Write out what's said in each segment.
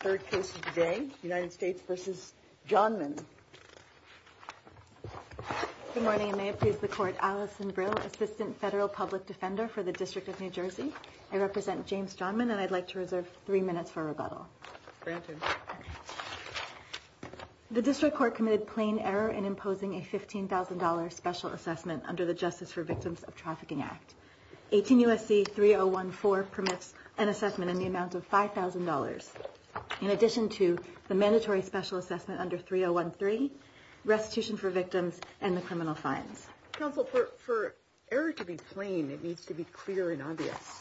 Third case of the day, United States v. Johnman. Good morning, and may it please the Court, Alison Brill, Assistant Federal Public Defender for the District of New Jersey. I represent James Johnman, and I'd like to reserve three minutes for rebuttal. Granted. The District Court committed plain error in imposing a $15,000 special assessment under the Justice for Victims of Trafficking Act. 18 U.S.C. 3014 permits an assessment in the amount of $5,000, in addition to the mandatory special assessment under 3013, restitution for victims, and the criminal fines. Counsel, for error to be plain, it needs to be clear and obvious.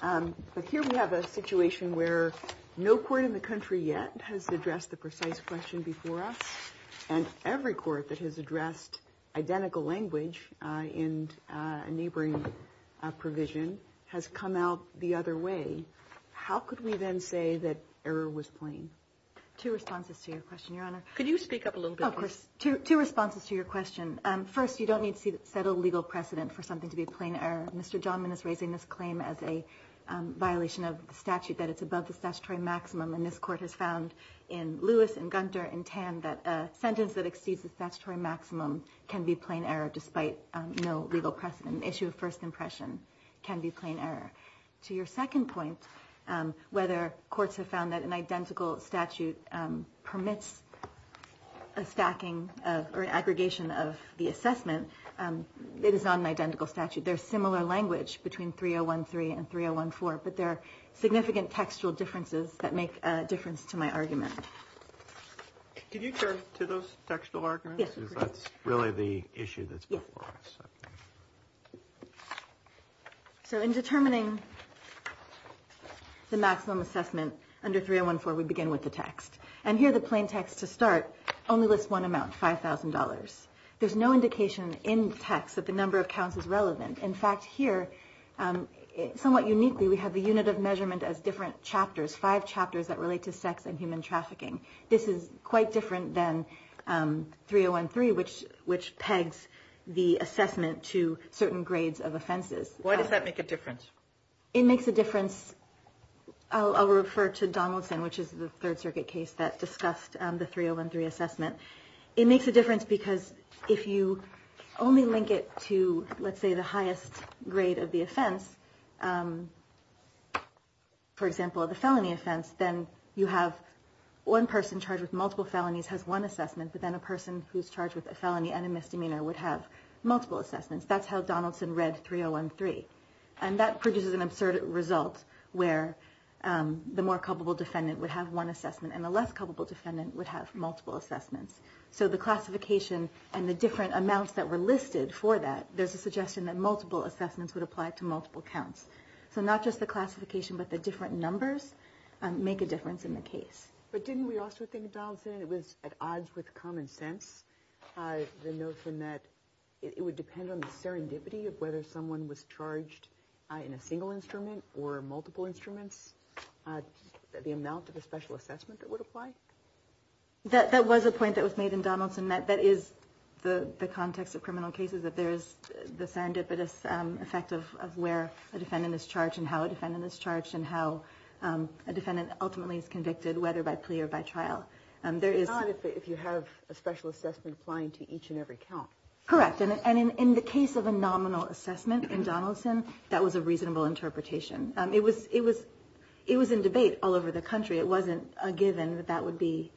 But here we have a situation where no court in the country yet has addressed the precise question before us. And every court that has addressed identical language in a neighboring provision has come out the other way. How could we then say that error was plain? Two responses to your question, Your Honor. Could you speak up a little bit? Of course. Two responses to your question. First, you don't need to set a legal precedent for something to be a plain error. Mr. Johnman is raising this claim as a violation of the statute, that it's above the statutory maximum. And this Court has found in Lewis and Gunter and Tan that a sentence that exceeds the statutory maximum can be a plain error, despite no legal precedent. An issue of first impression can be a plain error. To your second point, whether courts have found that an identical statute permits a stacking or an aggregation of the assessment, it is not an identical statute. There's similar language between 3013 and 3014, but there are significant textual differences that make a difference to my argument. Could you turn to those textual arguments? Yes, of course. Because that's really the issue that's before us. So in determining the maximum assessment under 3014, we begin with the text. And here the plain text to start only lists one amount, $5,000. There's no indication in text that the number of counts is relevant. In fact, here, somewhat uniquely, we have the unit of measurement as different chapters, five chapters that relate to sex and human trafficking. This is quite different than 3013, which pegs the assessment to certain grades of offenses. Why does that make a difference? It makes a difference. I'll refer to Donaldson, which is the Third Circuit case that discussed the 3013 assessment. It makes a difference because if you only link it to, let's say, the highest grade of the offense, for example, the felony offense, then you have one person charged with multiple felonies has one assessment, but then a person who's charged with a felony and a misdemeanor would have multiple assessments. That's how Donaldson read 3013. And that produces an absurd result where the more culpable defendant would have one assessment and the less culpable defendant would have multiple assessments. So the classification and the different amounts that were listed for that, there's a suggestion that multiple assessments would apply to multiple counts. So not just the classification, but the different numbers make a difference in the case. But didn't we also think, Donaldson, it was at odds with common sense, the notion that it would depend on the serendipity of whether someone was charged in a single instrument or multiple instruments, the amount of a special assessment that would apply? That was a point that was made in Donaldson. That is the context of criminal cases, that there is the serendipitous effect of where a defendant is charged and how a defendant is charged and how a defendant ultimately is convicted, whether by plea or by trial. It's not if you have a special assessment applying to each and every count. Correct. And in the case of a nominal assessment in Donaldson, that was a reasonable interpretation. It was in debate all over the country. It wasn't a given that that would be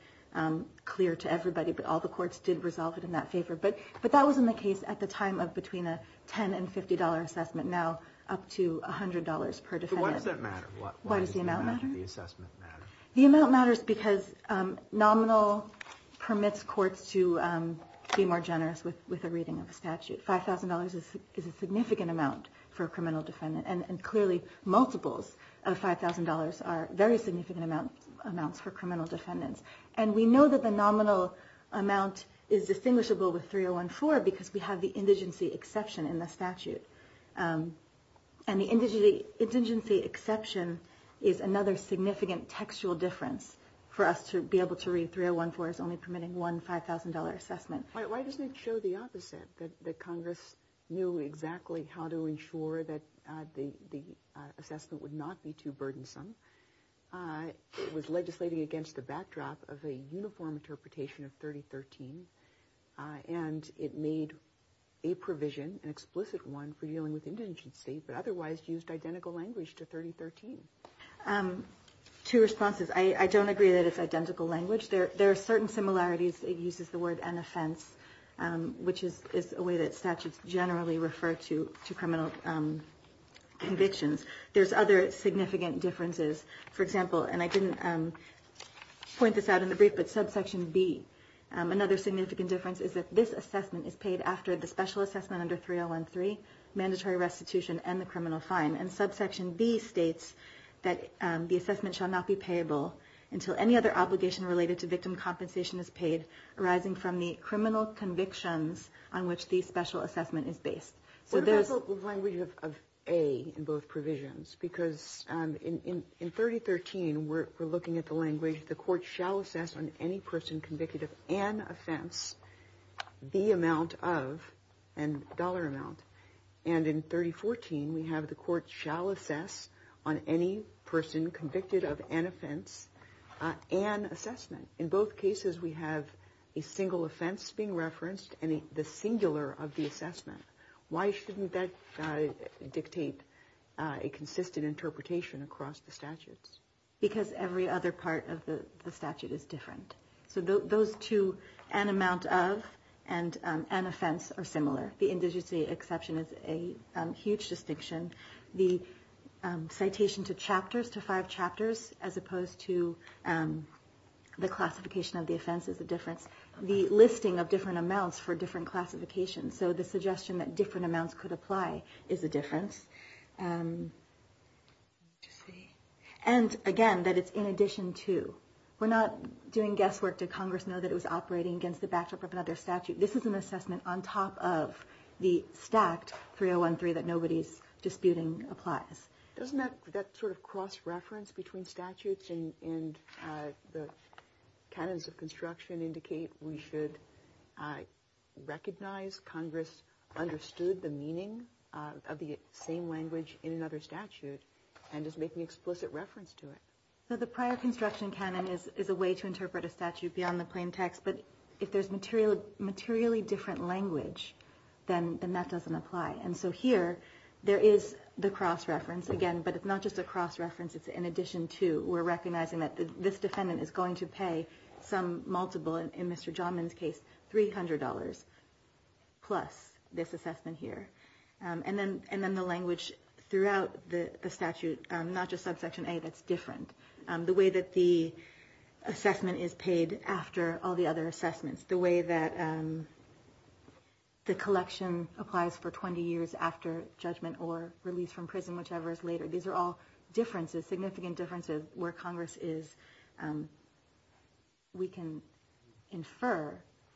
clear to everybody, but all the courts did resolve it in that favor. But that was in the case at the time of between a $10 and $50 assessment, now up to $100 per defendant. So why does that matter? Why does the amount matter? Why does the assessment matter? The amount matters because nominal permits courts to be more generous with a reading of a statute. $5,000 is a significant amount for a criminal defendant, and clearly multiples of $5,000 are very significant amounts for criminal defendants. And we know that the nominal amount is distinguishable with 3014 because we have the indigency exception in the statute. And the indigency exception is another significant textual difference for us to be able to read. 3014 is only permitting one $5,000 assessment. Why doesn't it show the opposite, that Congress knew exactly how to ensure that the assessment would not be too burdensome? It was legislating against the backdrop of a uniform interpretation of 3013, and it made a provision, an explicit one, for dealing with indigency, but otherwise used identical language to 3013. Two responses. I don't agree that it's identical language. There are certain similarities. It uses the word an offense, which is a way that statutes generally refer to criminal convictions. There's other significant differences. For example, and I didn't point this out in the brief, but subsection B, another significant difference is that this assessment is paid after the special assessment under 3013, mandatory restitution, and the criminal fine. And subsection B states that the assessment shall not be payable until any other obligation related to victim compensation is paid, arising from the criminal convictions on which the special assessment is based. What about the language of A in both provisions? Because in 3013, we're looking at the language, the court shall assess on any person convicted of an offense the amount of, and dollar amount. And in 3014, we have the court shall assess on any person convicted of an offense an assessment. In both cases, we have a single offense being referenced and the singular of the assessment. Why shouldn't that dictate a consistent interpretation across the statutes? Because every other part of the statute is different. So those two, an amount of and an offense are similar. The indigency exception is a huge distinction. The citation to chapters, to five chapters, as opposed to the classification of the offense is a difference. The listing of different amounts for different classifications. So the suggestion that different amounts could apply is a difference. And again, that it's in addition to. We're not doing guesswork. Did Congress know that it was operating against the backdrop of another statute? This is an assessment on top of the stacked 3013 that nobody's disputing applies. Doesn't that sort of cross-reference between statutes and the canons of construction indicate we should recognize Congress understood the meaning of the same language in another statute and is making explicit reference to it? The prior construction canon is a way to interpret a statute beyond the plain text. But if there's materially different language, then that doesn't apply. And so here, there is the cross-reference again. But it's not just a cross-reference. It's in addition to. We're recognizing that this defendant is going to pay some multiple, in Mr. Johnman's case, $300 plus this assessment here. And then the language throughout the statute, not just subsection A, that's different. The way that the assessment is paid after all the other assessments, the way that the collection applies for 20 years after judgment or release from prison, whichever is later, these are all differences, significant differences, where Congress is. We can infer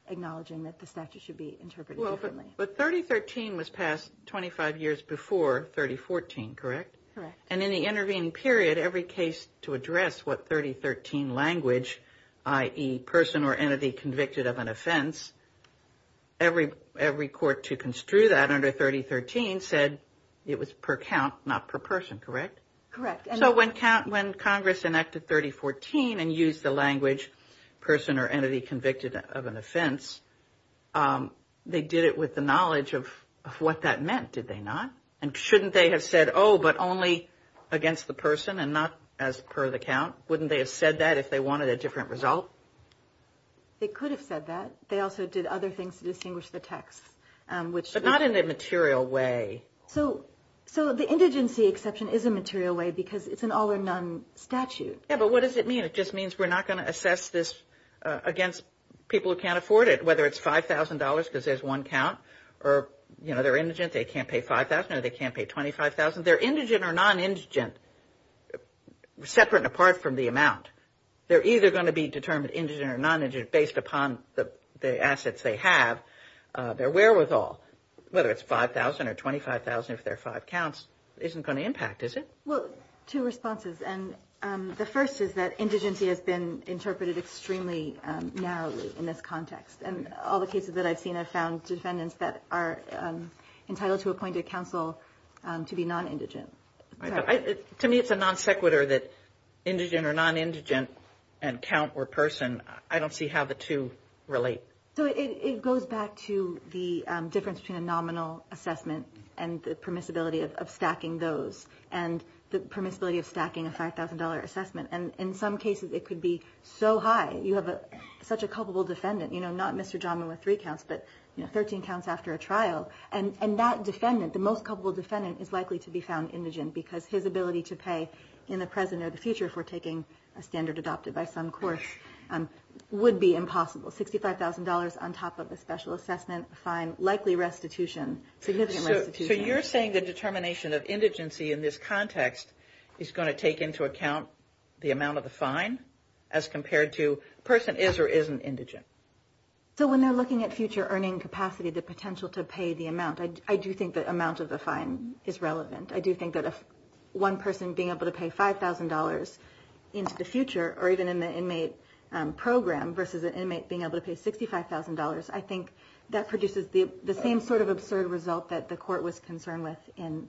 acknowledging that the statute should be interpreted differently. But 3013 was passed 25 years before 3014, correct? Correct. And in the intervening period, every case to address what 3013 language, i.e., person or entity convicted of an offense, every court to construe that under 3013 said it was per count, not per person, correct? Correct. So when Congress enacted 3014 and used the language person or entity convicted of an offense, they did it with the knowledge of what that meant, did they not? And shouldn't they have said, oh, but only against the person and not as per the count? Wouldn't they have said that if they wanted a different result? They could have said that. They also did other things to distinguish the text. But not in a material way. So the indigency exception is a material way because it's an all-or-none statute. Yeah, but what does it mean? It just means we're not going to assess this against people who can't afford it, or, you know, they're indigent, they can't pay $5,000, or they can't pay $25,000. They're indigent or non-indigent, separate and apart from the amount. They're either going to be determined indigent or non-indigent based upon the assets they have, their wherewithal. Whether it's $5,000 or $25,000 if they're five counts isn't going to impact, is it? Well, two responses. And the first is that indigency has been interpreted extremely narrowly in this context. And all the cases that I've seen have found defendants that are entitled to appointed counsel to be non-indigent. To me, it's a non sequitur that indigent or non-indigent and count or person, I don't see how the two relate. So it goes back to the difference between a nominal assessment and the permissibility of stacking those and the permissibility of stacking a $5,000 assessment. And in some cases, it could be so high. You have such a culpable defendant, you know, not Mr. Johnman with three counts, but 13 counts after a trial. And that defendant, the most culpable defendant, is likely to be found indigent because his ability to pay in the present or the future for taking a standard adopted by some courts would be impossible. $65,000 on top of a special assessment, fine, likely restitution, significant restitution. So you're saying the determination of indigency in this context is going to take into account the amount of the fine as compared to a person is or isn't indigent? So when they're looking at future earning capacity, the potential to pay the amount, I do think the amount of the fine is relevant. I do think that if one person being able to pay $5,000 into the future or even in the inmate program versus an inmate being able to pay $65,000, I think that produces the same sort of absurd result that the court was concerned with.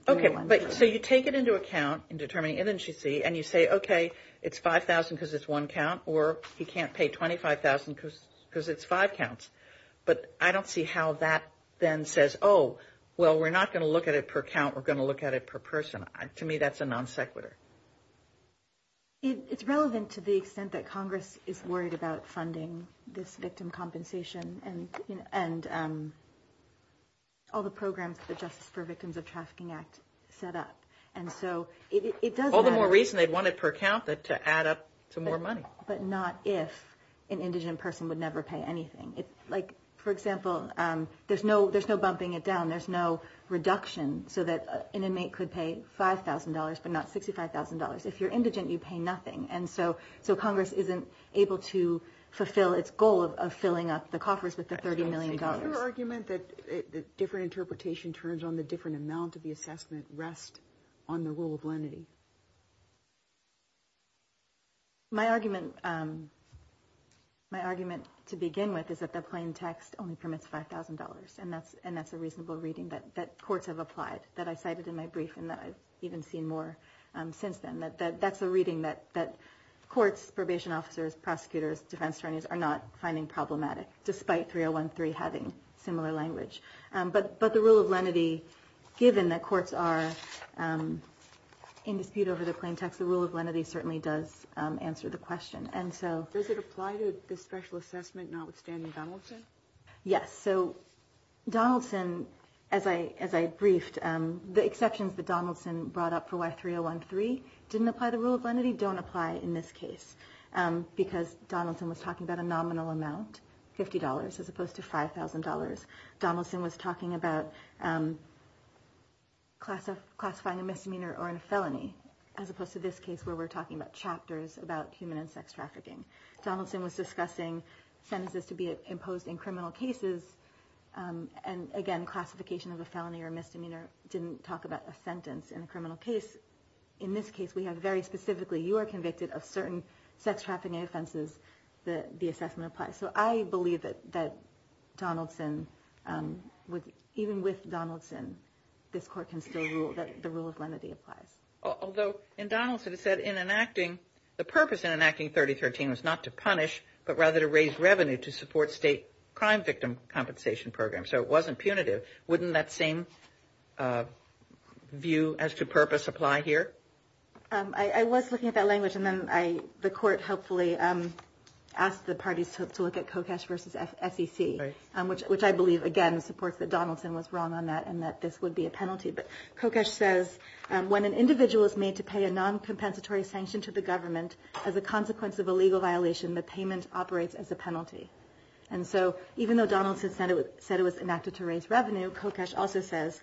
OK, but so you take it into account in determining indigency and you say, OK, it's $5,000 because it's one count or he can't pay $25,000 because it's five counts. But I don't see how that then says, oh, well, we're not going to look at it per count. We're going to look at it per person. To me, that's a non sequitur. It's relevant to the extent that Congress is worried about funding this victim compensation and all the programs that the Justice for Victims of Trafficking Act set up. All the more reason they'd want it per count to add up to more money. But not if an indigent person would never pay anything. Like, for example, there's no bumping it down. There's no reduction so that an inmate could pay $5,000 but not $65,000. If you're indigent, you pay nothing. And so Congress isn't able to fulfill its goal of filling up the coffers with the $30 million. Your argument that different interpretation turns on the different amount of the assessment rests on the rule of lenity. My argument to begin with is that the plain text only permits $5,000. And that's a reasonable reading that courts have applied. That I cited in my brief and that I've even seen more since then. That's a reading that courts, probation officers, prosecutors, defense attorneys are not finding problematic, despite 3013 having similar language. But the rule of lenity, given that courts are in dispute over the plain text, the rule of lenity certainly does answer the question. Does it apply to the special assessment notwithstanding Donaldson? Yes. So Donaldson, as I briefed, the exceptions that Donaldson brought up for why 3013 didn't apply the rule of lenity don't apply in this case. Because Donaldson was talking about a nominal amount, $50, as opposed to $5,000. Donaldson was talking about classifying a misdemeanor or a felony, as opposed to this case where we're talking about chapters about human and sex trafficking. Donaldson was discussing sentences to be imposed in criminal cases. And again, classification of a felony or misdemeanor didn't talk about a sentence in a criminal case. In this case, we have very specifically, you are convicted of certain sex trafficking offenses that the assessment applies. So I believe that Donaldson, even with Donaldson, this court can still rule that the rule of lenity applies. Although in Donaldson it said in enacting, the purpose in enacting 3013 was not to punish, but rather to raise revenue to support state crime victim compensation programs. So it wasn't punitive. Wouldn't that same view as to purpose apply here? I was looking at that language, and then the court helpfully asked the parties to look at Kokesh versus SEC, which I believe, again, supports that Donaldson was wrong on that and that this would be a penalty. But Kokesh says, when an individual is made to pay a non-compensatory sanction to the government, as a consequence of a legal violation, the payment operates as a penalty. And so even though Donaldson said it was enacted to raise revenue, Kokesh also says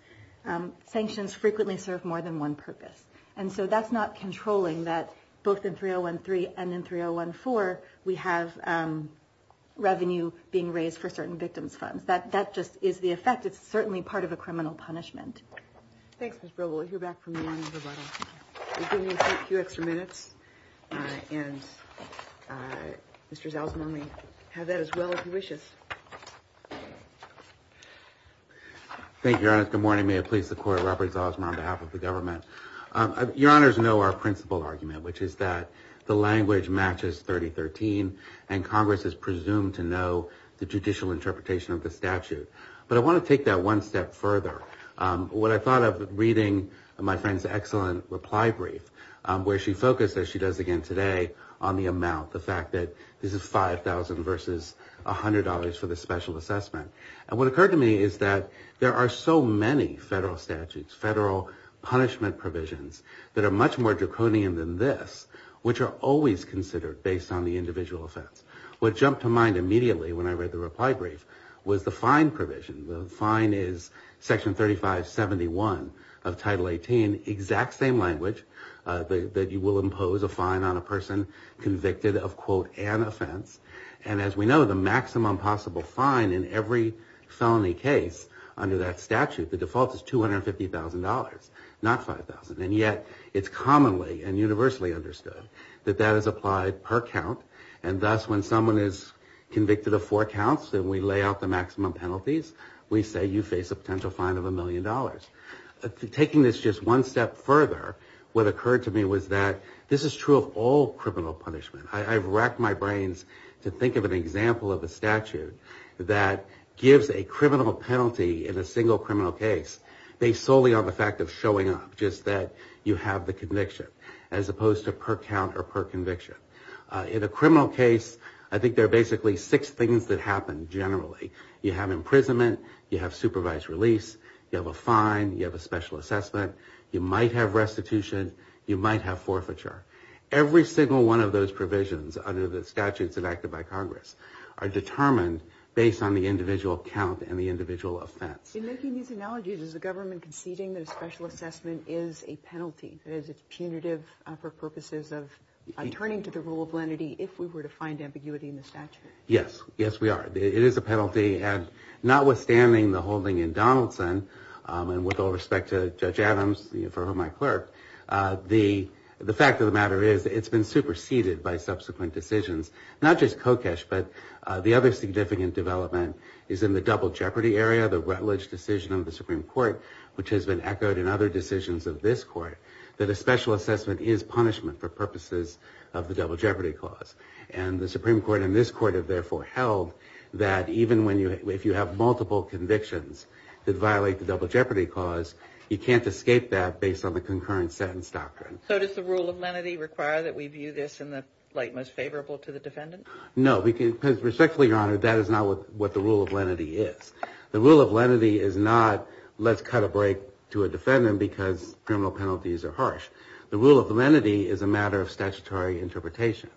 sanctions frequently serve more than one purpose. And so that's not controlling that both in 3013 and in 3014 we have revenue being raised for certain victims' funds. That just is the effect. It's certainly part of a criminal punishment. Thanks, Ms. Brewer. We'll hear back from you in a little while. You're giving me a few extra minutes, and Mr. Zalzman may have that as well if he wishes. Thank you, Your Honor. Good morning. May it please the Court, Robert Zalzman on behalf of the government. Your Honors know our principal argument, which is that the language matches 3013, and Congress is presumed to know the judicial interpretation of the statute. But I want to take that one step further. When I thought of reading my friend's excellent reply brief, where she focused, as she does again today, on the amount, the fact that this is $5,000 versus $100 for the special assessment. And what occurred to me is that there are so many federal statutes, federal punishment provisions, that are much more draconian than this, which are always considered based on the individual offense. What jumped to mind immediately when I read the reply brief was the fine provision. The fine is Section 3571 of Title 18, exact same language, that you will impose a fine on a person convicted of, quote, an offense. And as we know, the maximum possible fine in every felony case under that statute, the default is $250,000, not $5,000. And yet, it's commonly and universally understood that that is applied per count. And thus, when someone is convicted of four counts and we lay out the maximum penalties, we say you face a potential fine of $1 million. Taking this just one step further, what occurred to me was that this is true of all criminal punishment. I've racked my brains to think of an example of a statute that gives a criminal penalty in a single criminal case based solely on the fact of showing up, just that you have the conviction, as opposed to per count or per conviction. In a criminal case, I think there are basically six things that happen generally. You have imprisonment. You have supervised release. You have a fine. You have a special assessment. You might have restitution. You might have forfeiture. Every single one of those provisions under the statutes enacted by Congress are determined based on the individual count and the individual offense. In making these analogies, is the government conceding that a special assessment is a penalty? That is, it's punitive for purposes of turning to the rule of lenity if we were to find ambiguity in the statute? Yes. Yes, we are. It is a penalty. And notwithstanding the holding in Donaldson, and with all respect to Judge Adams, for whom I clerk, the fact of the matter is it's been superseded by subsequent decisions. Not just Kokesh, but the other significant development is in the double jeopardy area, the Rutledge decision of the Supreme Court, which has been echoed in other decisions of this court, that a special assessment is punishment for purposes of the double jeopardy clause. And the Supreme Court and this court have therefore held that even if you have multiple convictions that violate the double jeopardy clause, you can't escape that based on the concurrent sentence doctrine. So does the rule of lenity require that we view this in the light most favorable to the defendant? No, because respectfully, Your Honor, that is not what the rule of lenity is. The rule of lenity is not, let's cut a break to a defendant because criminal penalties are harsh. The rule of lenity is a matter of statutory interpretation.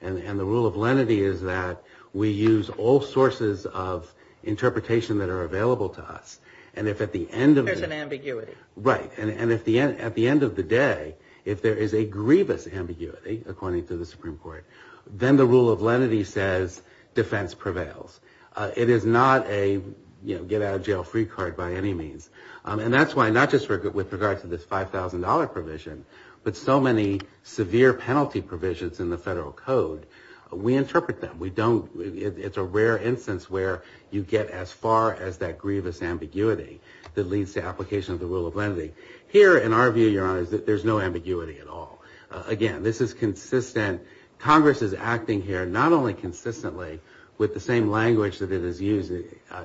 And the rule of lenity is that we use all sources of interpretation that are available to us. And if at the end of the... There's an ambiguity. Right. And at the end of the day, if there is a grievous ambiguity, according to the Supreme Court, then the rule of lenity says defense prevails. It is not a, you know, get out of jail free card by any means. And that's why not just with regard to this $5,000 provision, but so many severe penalty provisions in the federal code, we interpret them. We don't... It's a rare instance where you get as far as that grievous ambiguity that leads to application of the rule of lenity. Here, in our view, Your Honor, there's no ambiguity at all. Again, this is consistent. Congress is acting here not only consistently with the same language that it is used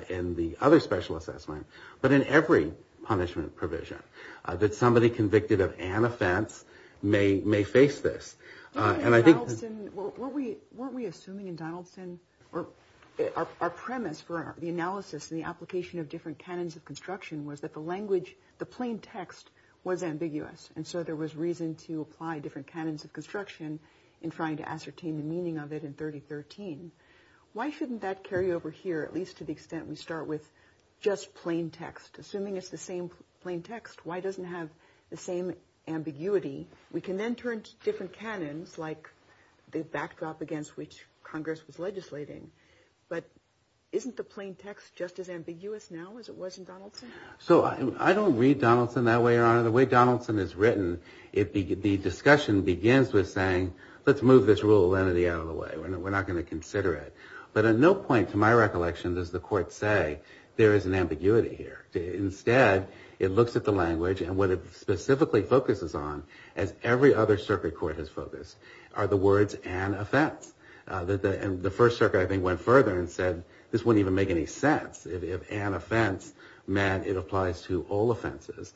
in the other special assessment, but in every punishment provision that somebody convicted of an offense may face this. And I think... Donaldson... Weren't we assuming in Donaldson... Our premise for the analysis and the application of different canons of construction was that the language, the plain text, was ambiguous. And so there was reason to apply different canons of construction in trying to ascertain the meaning of it in 3013. Why shouldn't that carry over here, at least to the extent we start with just plain text? Assuming it's the same plain text, why doesn't it have the same ambiguity? We can then turn to different canons, like the backdrop against which Congress was legislating. But isn't the plain text just as ambiguous now as it was in Donaldson? The way Donaldson is written, the discussion begins with saying, let's move this rule of lenity out of the way. We're not going to consider it. But at no point, to my recollection, does the court say, there is an ambiguity here. Instead, it looks at the language, and what it specifically focuses on, as every other circuit court has focused, are the words, an offense. The First Circuit, I think, went further and said, this wouldn't even make any sense. If an offense meant it applies to all offenses.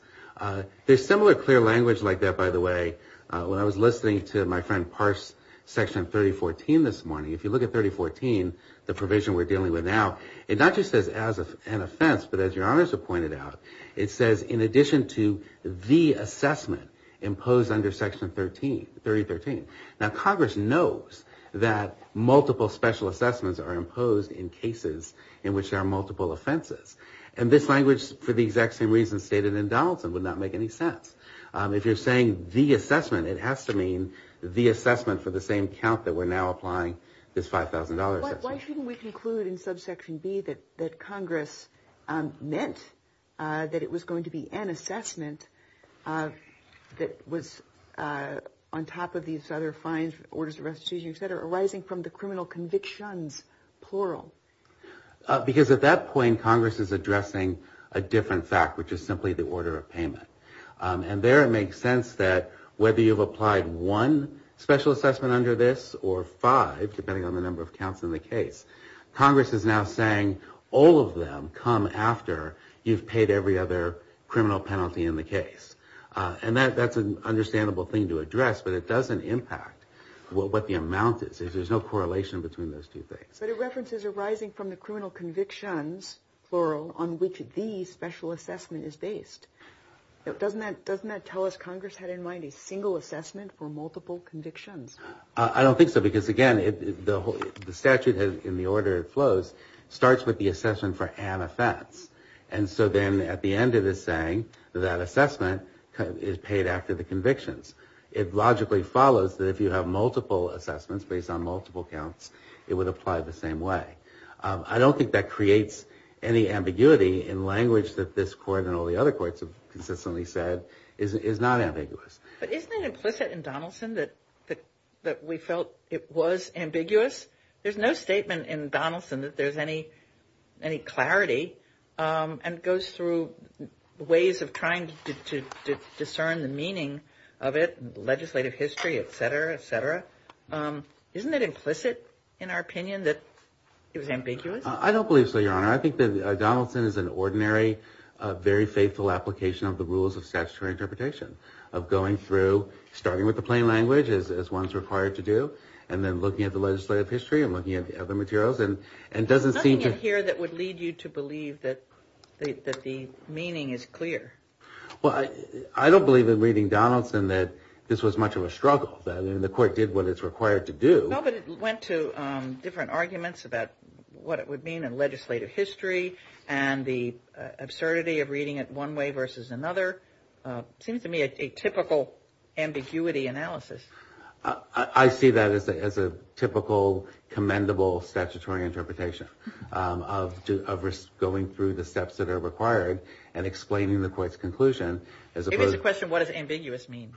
There's similar clear language like that, by the way. When I was listening to my friend parse Section 3014 this morning, if you look at 3014, the provision we're dealing with now, it not just says as an offense, but as your honors have pointed out, it says in addition to the assessment imposed under Section 3013. Now, Congress knows that multiple special assessments are imposed in cases in which there are multiple offenses. And this language, for the exact same reasons stated in Donaldson, would not make any sense. If you're saying the assessment, it has to mean the assessment for the same count that we're now applying this $5,000 assessment. Why shouldn't we conclude in subsection B that Congress meant that it was going to be an assessment that was on top of these other fines, orders of restitution, et cetera, arising from the criminal convictions, plural? Because at that point, Congress is addressing a different fact, which is simply the order of payment. And there it makes sense that whether you've applied one special assessment under this, or five, depending on the number of counts in the case, Congress is now saying all of them come after you've paid every other criminal penalty in the case. And that's an understandable thing to address, but it doesn't impact what the amount is. There's no correlation between those two things. But it references arising from the criminal convictions, plural, on which the special assessment is based. Doesn't that tell us Congress had in mind a single assessment for multiple convictions? I don't think so, because again, the statute in the order it flows starts with the assessment for an offense. And so then at the end it is saying that assessment is paid after the convictions. It logically follows that if you have multiple assessments based on multiple counts, it would apply the same way. I don't think that creates any ambiguity in language that this court and all the other courts have consistently said is not ambiguous. But isn't it implicit in Donaldson that we felt it was ambiguous? There's no statement in Donaldson that there's any clarity. And it goes through ways of trying to discern the meaning of it, legislative history, et cetera, et cetera. Isn't it implicit in our opinion that it was ambiguous? I don't believe so, Your Honor. I think that Donaldson is an ordinary, very faithful application of the rules of statutory interpretation, of going through, starting with the plain language, as one's required to do, and then looking at the legislative history and looking at the other materials, and doesn't seem to... There's nothing in here that would lead you to believe that the meaning is clear. Well, I don't believe in reading Donaldson that this was much of a struggle, that the court did what it's required to do. No, but it went to different arguments about what it would mean in legislative history and the absurdity of reading it one way versus another. It seems to me a typical ambiguity analysis. I see that as a typical, commendable statutory interpretation of going through the steps that are required and explaining the court's conclusion as opposed... If it's a question, what does ambiguous mean?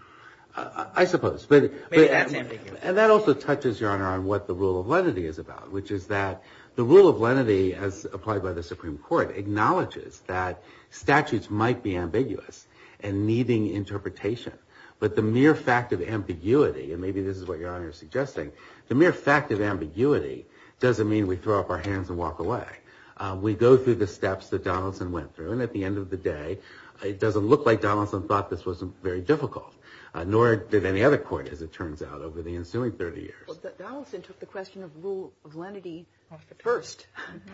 I suppose. Maybe that's ambiguous. And that also touches, Your Honor, on what the rule of lenity is about, which is that the rule of lenity, as applied by the Supreme Court, acknowledges that statutes might be ambiguous and needing interpretation, but the mere fact of ambiguity, and maybe this is what Your Honor is suggesting, the mere fact of ambiguity doesn't mean we throw up our hands and walk away. We go through the steps that Donaldson went through, and at the end of the day, it doesn't look like Donaldson thought this was very difficult, nor did any other court, as it turns out, over the ensuing 30 years. Donaldson took the question of rule of lenity first.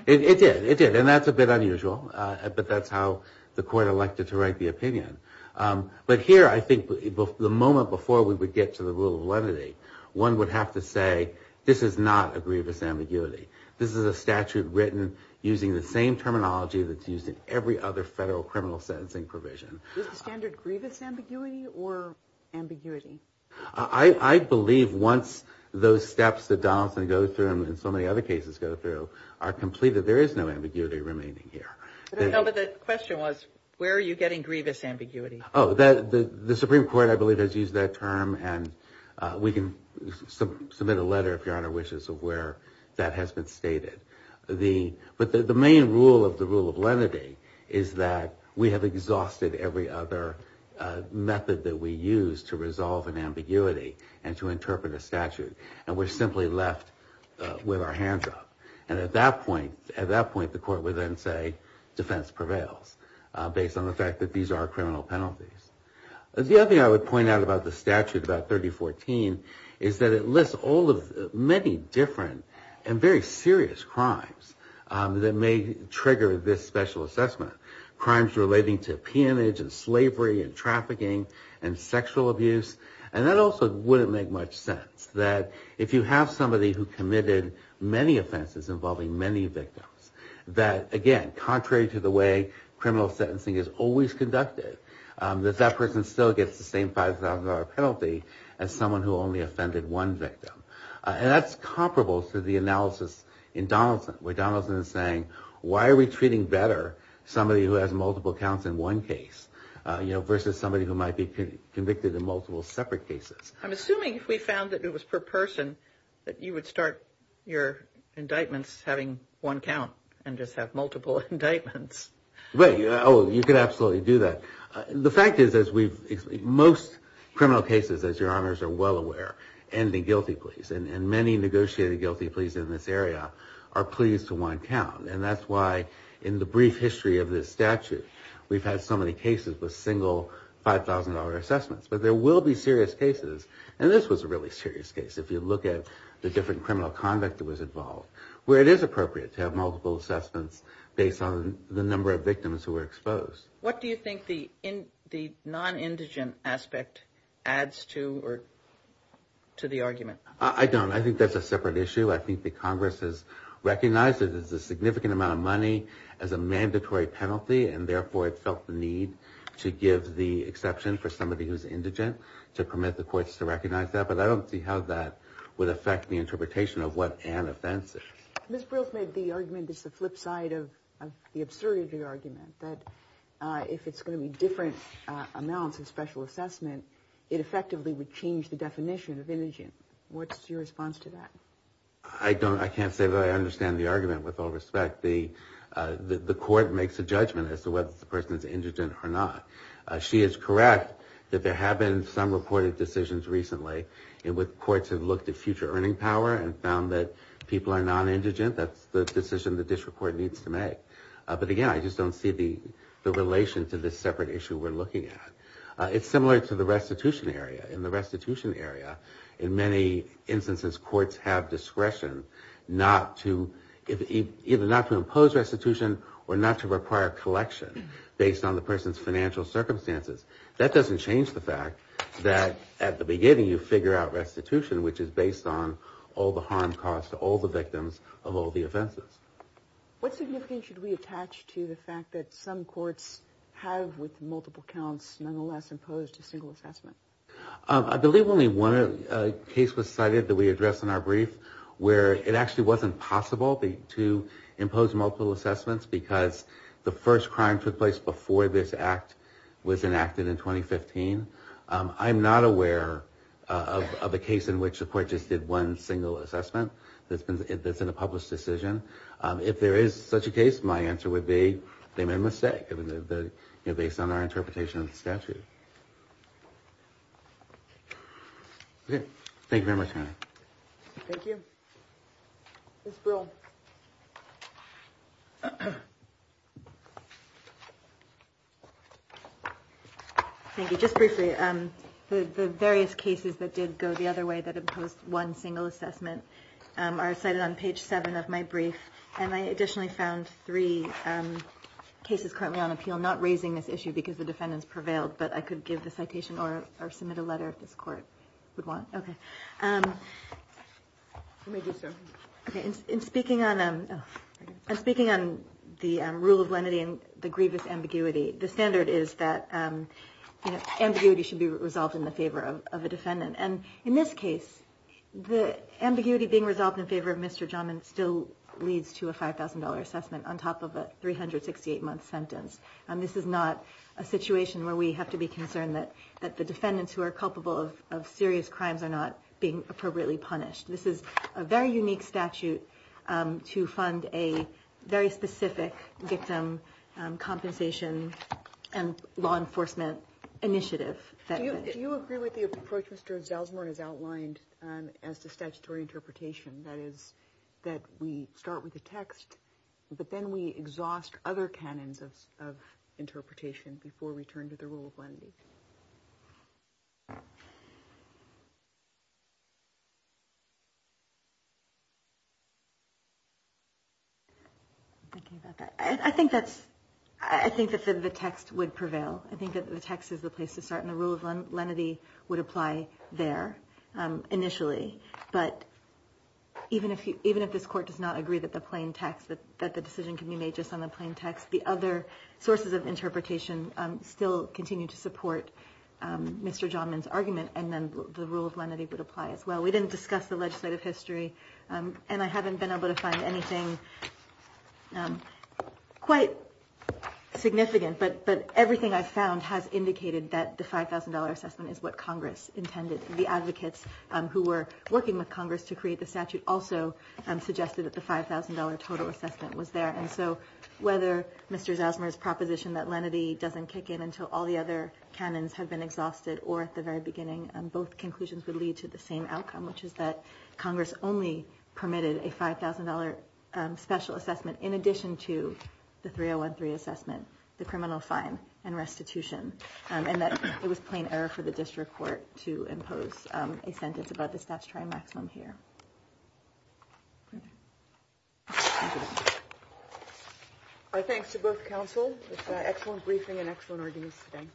It did. It did. And that's a bit unusual, but that's how the court elected to write the opinion. But here, I think the moment before we would get to the rule of lenity, one would have to say this is not a grievous ambiguity. This is a statute written using the same terminology that's used in every other federal criminal sentencing provision. Is the standard grievous ambiguity or ambiguity? I believe once those steps that Donaldson goes through and so many other cases go through are completed, there is no ambiguity remaining here. No, but the question was where are you getting grievous ambiguity? Oh, the Supreme Court, I believe, has used that term, and we can submit a letter, if Your Honor wishes, of where that has been stated. But the main rule of the rule of lenity is that we have exhausted every other method that we use to resolve an ambiguity and to interpret a statute, and we're simply left with our hands up. And at that point, the court would then say defense prevails, based on the fact that these are criminal penalties. The other thing I would point out about the statute, about 3014, is that it lists all of the many different and very serious crimes that may trigger this special assessment. Crimes relating to peonage and slavery and trafficking and sexual abuse, and that also wouldn't make much sense. That if you have somebody who committed many offenses involving many victims, that again, contrary to the way criminal sentencing is always conducted, that that person still gets the same $5,000 penalty as someone who only offended one victim. And that's comparable to the analysis in Donaldson, where Donaldson is saying, why are we treating better somebody who has multiple counts in one case, you know, versus somebody who might be convicted in multiple separate cases. I'm assuming if we found that it was per person, that you would start your indictments having one count and just have multiple indictments. You could absolutely do that. The fact is, most criminal cases, as your honors are well aware, end in guilty pleas. And many negotiated guilty pleas in this area are pleas to one count. And that's why in the brief history of this statute, we've had so many cases with single $5,000 assessments. But there will be serious cases, and this was a really serious case, if you look at the different criminal conduct that was involved, where it is appropriate to have multiple assessments based on the number of victims who were exposed. What do you think the non-indigent aspect adds to the argument? I don't. I think that's a separate issue. I think the Congress has recognized that there's a significant amount of money as a mandatory penalty, and therefore it felt the need to give the exception for somebody who's indigent, to permit the courts to recognize that. But I don't see how that would affect the interpretation of what an offense is. Ms. Brill's made the argument that's the flip side of the absurdity argument, that if it's going to be different amounts of special assessment, it effectively would change the definition of indigent. What's your response to that? I can't say that I understand the argument with all respect. The court makes a judgment as to whether the person is indigent or not. She is correct that there have been some reported decisions recently in which courts have looked at future earning power and found that people are non-indigent. That's the decision the district court needs to make. But again, I just don't see the relation to this separate issue we're looking at. It's similar to the restitution area. In the restitution area, in many instances, courts have discretion either not to impose restitution or not to require collection based on the person's financial circumstances. That doesn't change the fact that at the beginning you figure out restitution, which is based on all the harm caused to all the victims of all the offenses. What significance should we attach to the fact that some courts have with multiple counts nonetheless imposed a single assessment? I believe only one case was cited that we addressed in our brief where it actually wasn't possible to impose multiple assessments because the first crime took place before this act was enacted in 2015. I'm not aware of a case in which the court just did one single assessment that's in a published decision. If there is such a case, my answer would be they made a mistake based on our interpretation of the statute. Thank you very much. Thank you. Ms. Brill. Thank you. Just briefly, the various cases that did go the other way that imposed one single assessment are cited on page 7 of my brief. I additionally found three cases currently on appeal not raising this issue because the defendants prevailed, but I could give the citation or submit a letter if this court would want. Okay. In speaking on the rule of lenity and the grievous ambiguity, the standard is that ambiguity should be resolved in the favor of a defendant. In this case, the ambiguity being resolved in favor of Mr. Jommen still leads to a $5,000 assessment on top of a 368-month sentence. This is not a situation where we have to be concerned that the defendants who are culpable of serious crimes are not being appropriately punished. This is a very unique statute to fund a very specific victim compensation and law enforcement initiative. Do you agree with the approach Mr. Zelzmurn has outlined as to statutory interpretation? That is, that we start with the text, but then we exhaust I'm thinking about that. I think that the text would prevail. I think that the text is the place to start, and the rule of lenity would apply there initially, but even if this court does not agree that the plain text, that the decision can be made just on the plain text, the other sources of interpretation still continue to support Mr. Jommen's argument, and then the rule of lenity would apply as well. We didn't discuss the legislative history, and I haven't been able to find anything quite significant, but everything I've found has indicated that the $5,000 assessment is what Congress intended. The advocates who were working with Congress to create the statute also suggested that the $5,000 total assessment was there, and so whether Mr. Zelzmurn's proposition that lenity doesn't kick in until all the other canons have been exhausted or at the very beginning, both conclusions would lead to the same outcome, which is that Congress only permitted a $5,000 special assessment in addition to the 3013 assessment, the criminal fine, and restitution, and that it was plain error for the district court to impose a sentence above the statutory maximum here. Thank you. Our thanks to both counsel. It was an excellent briefing and excellent arguments today.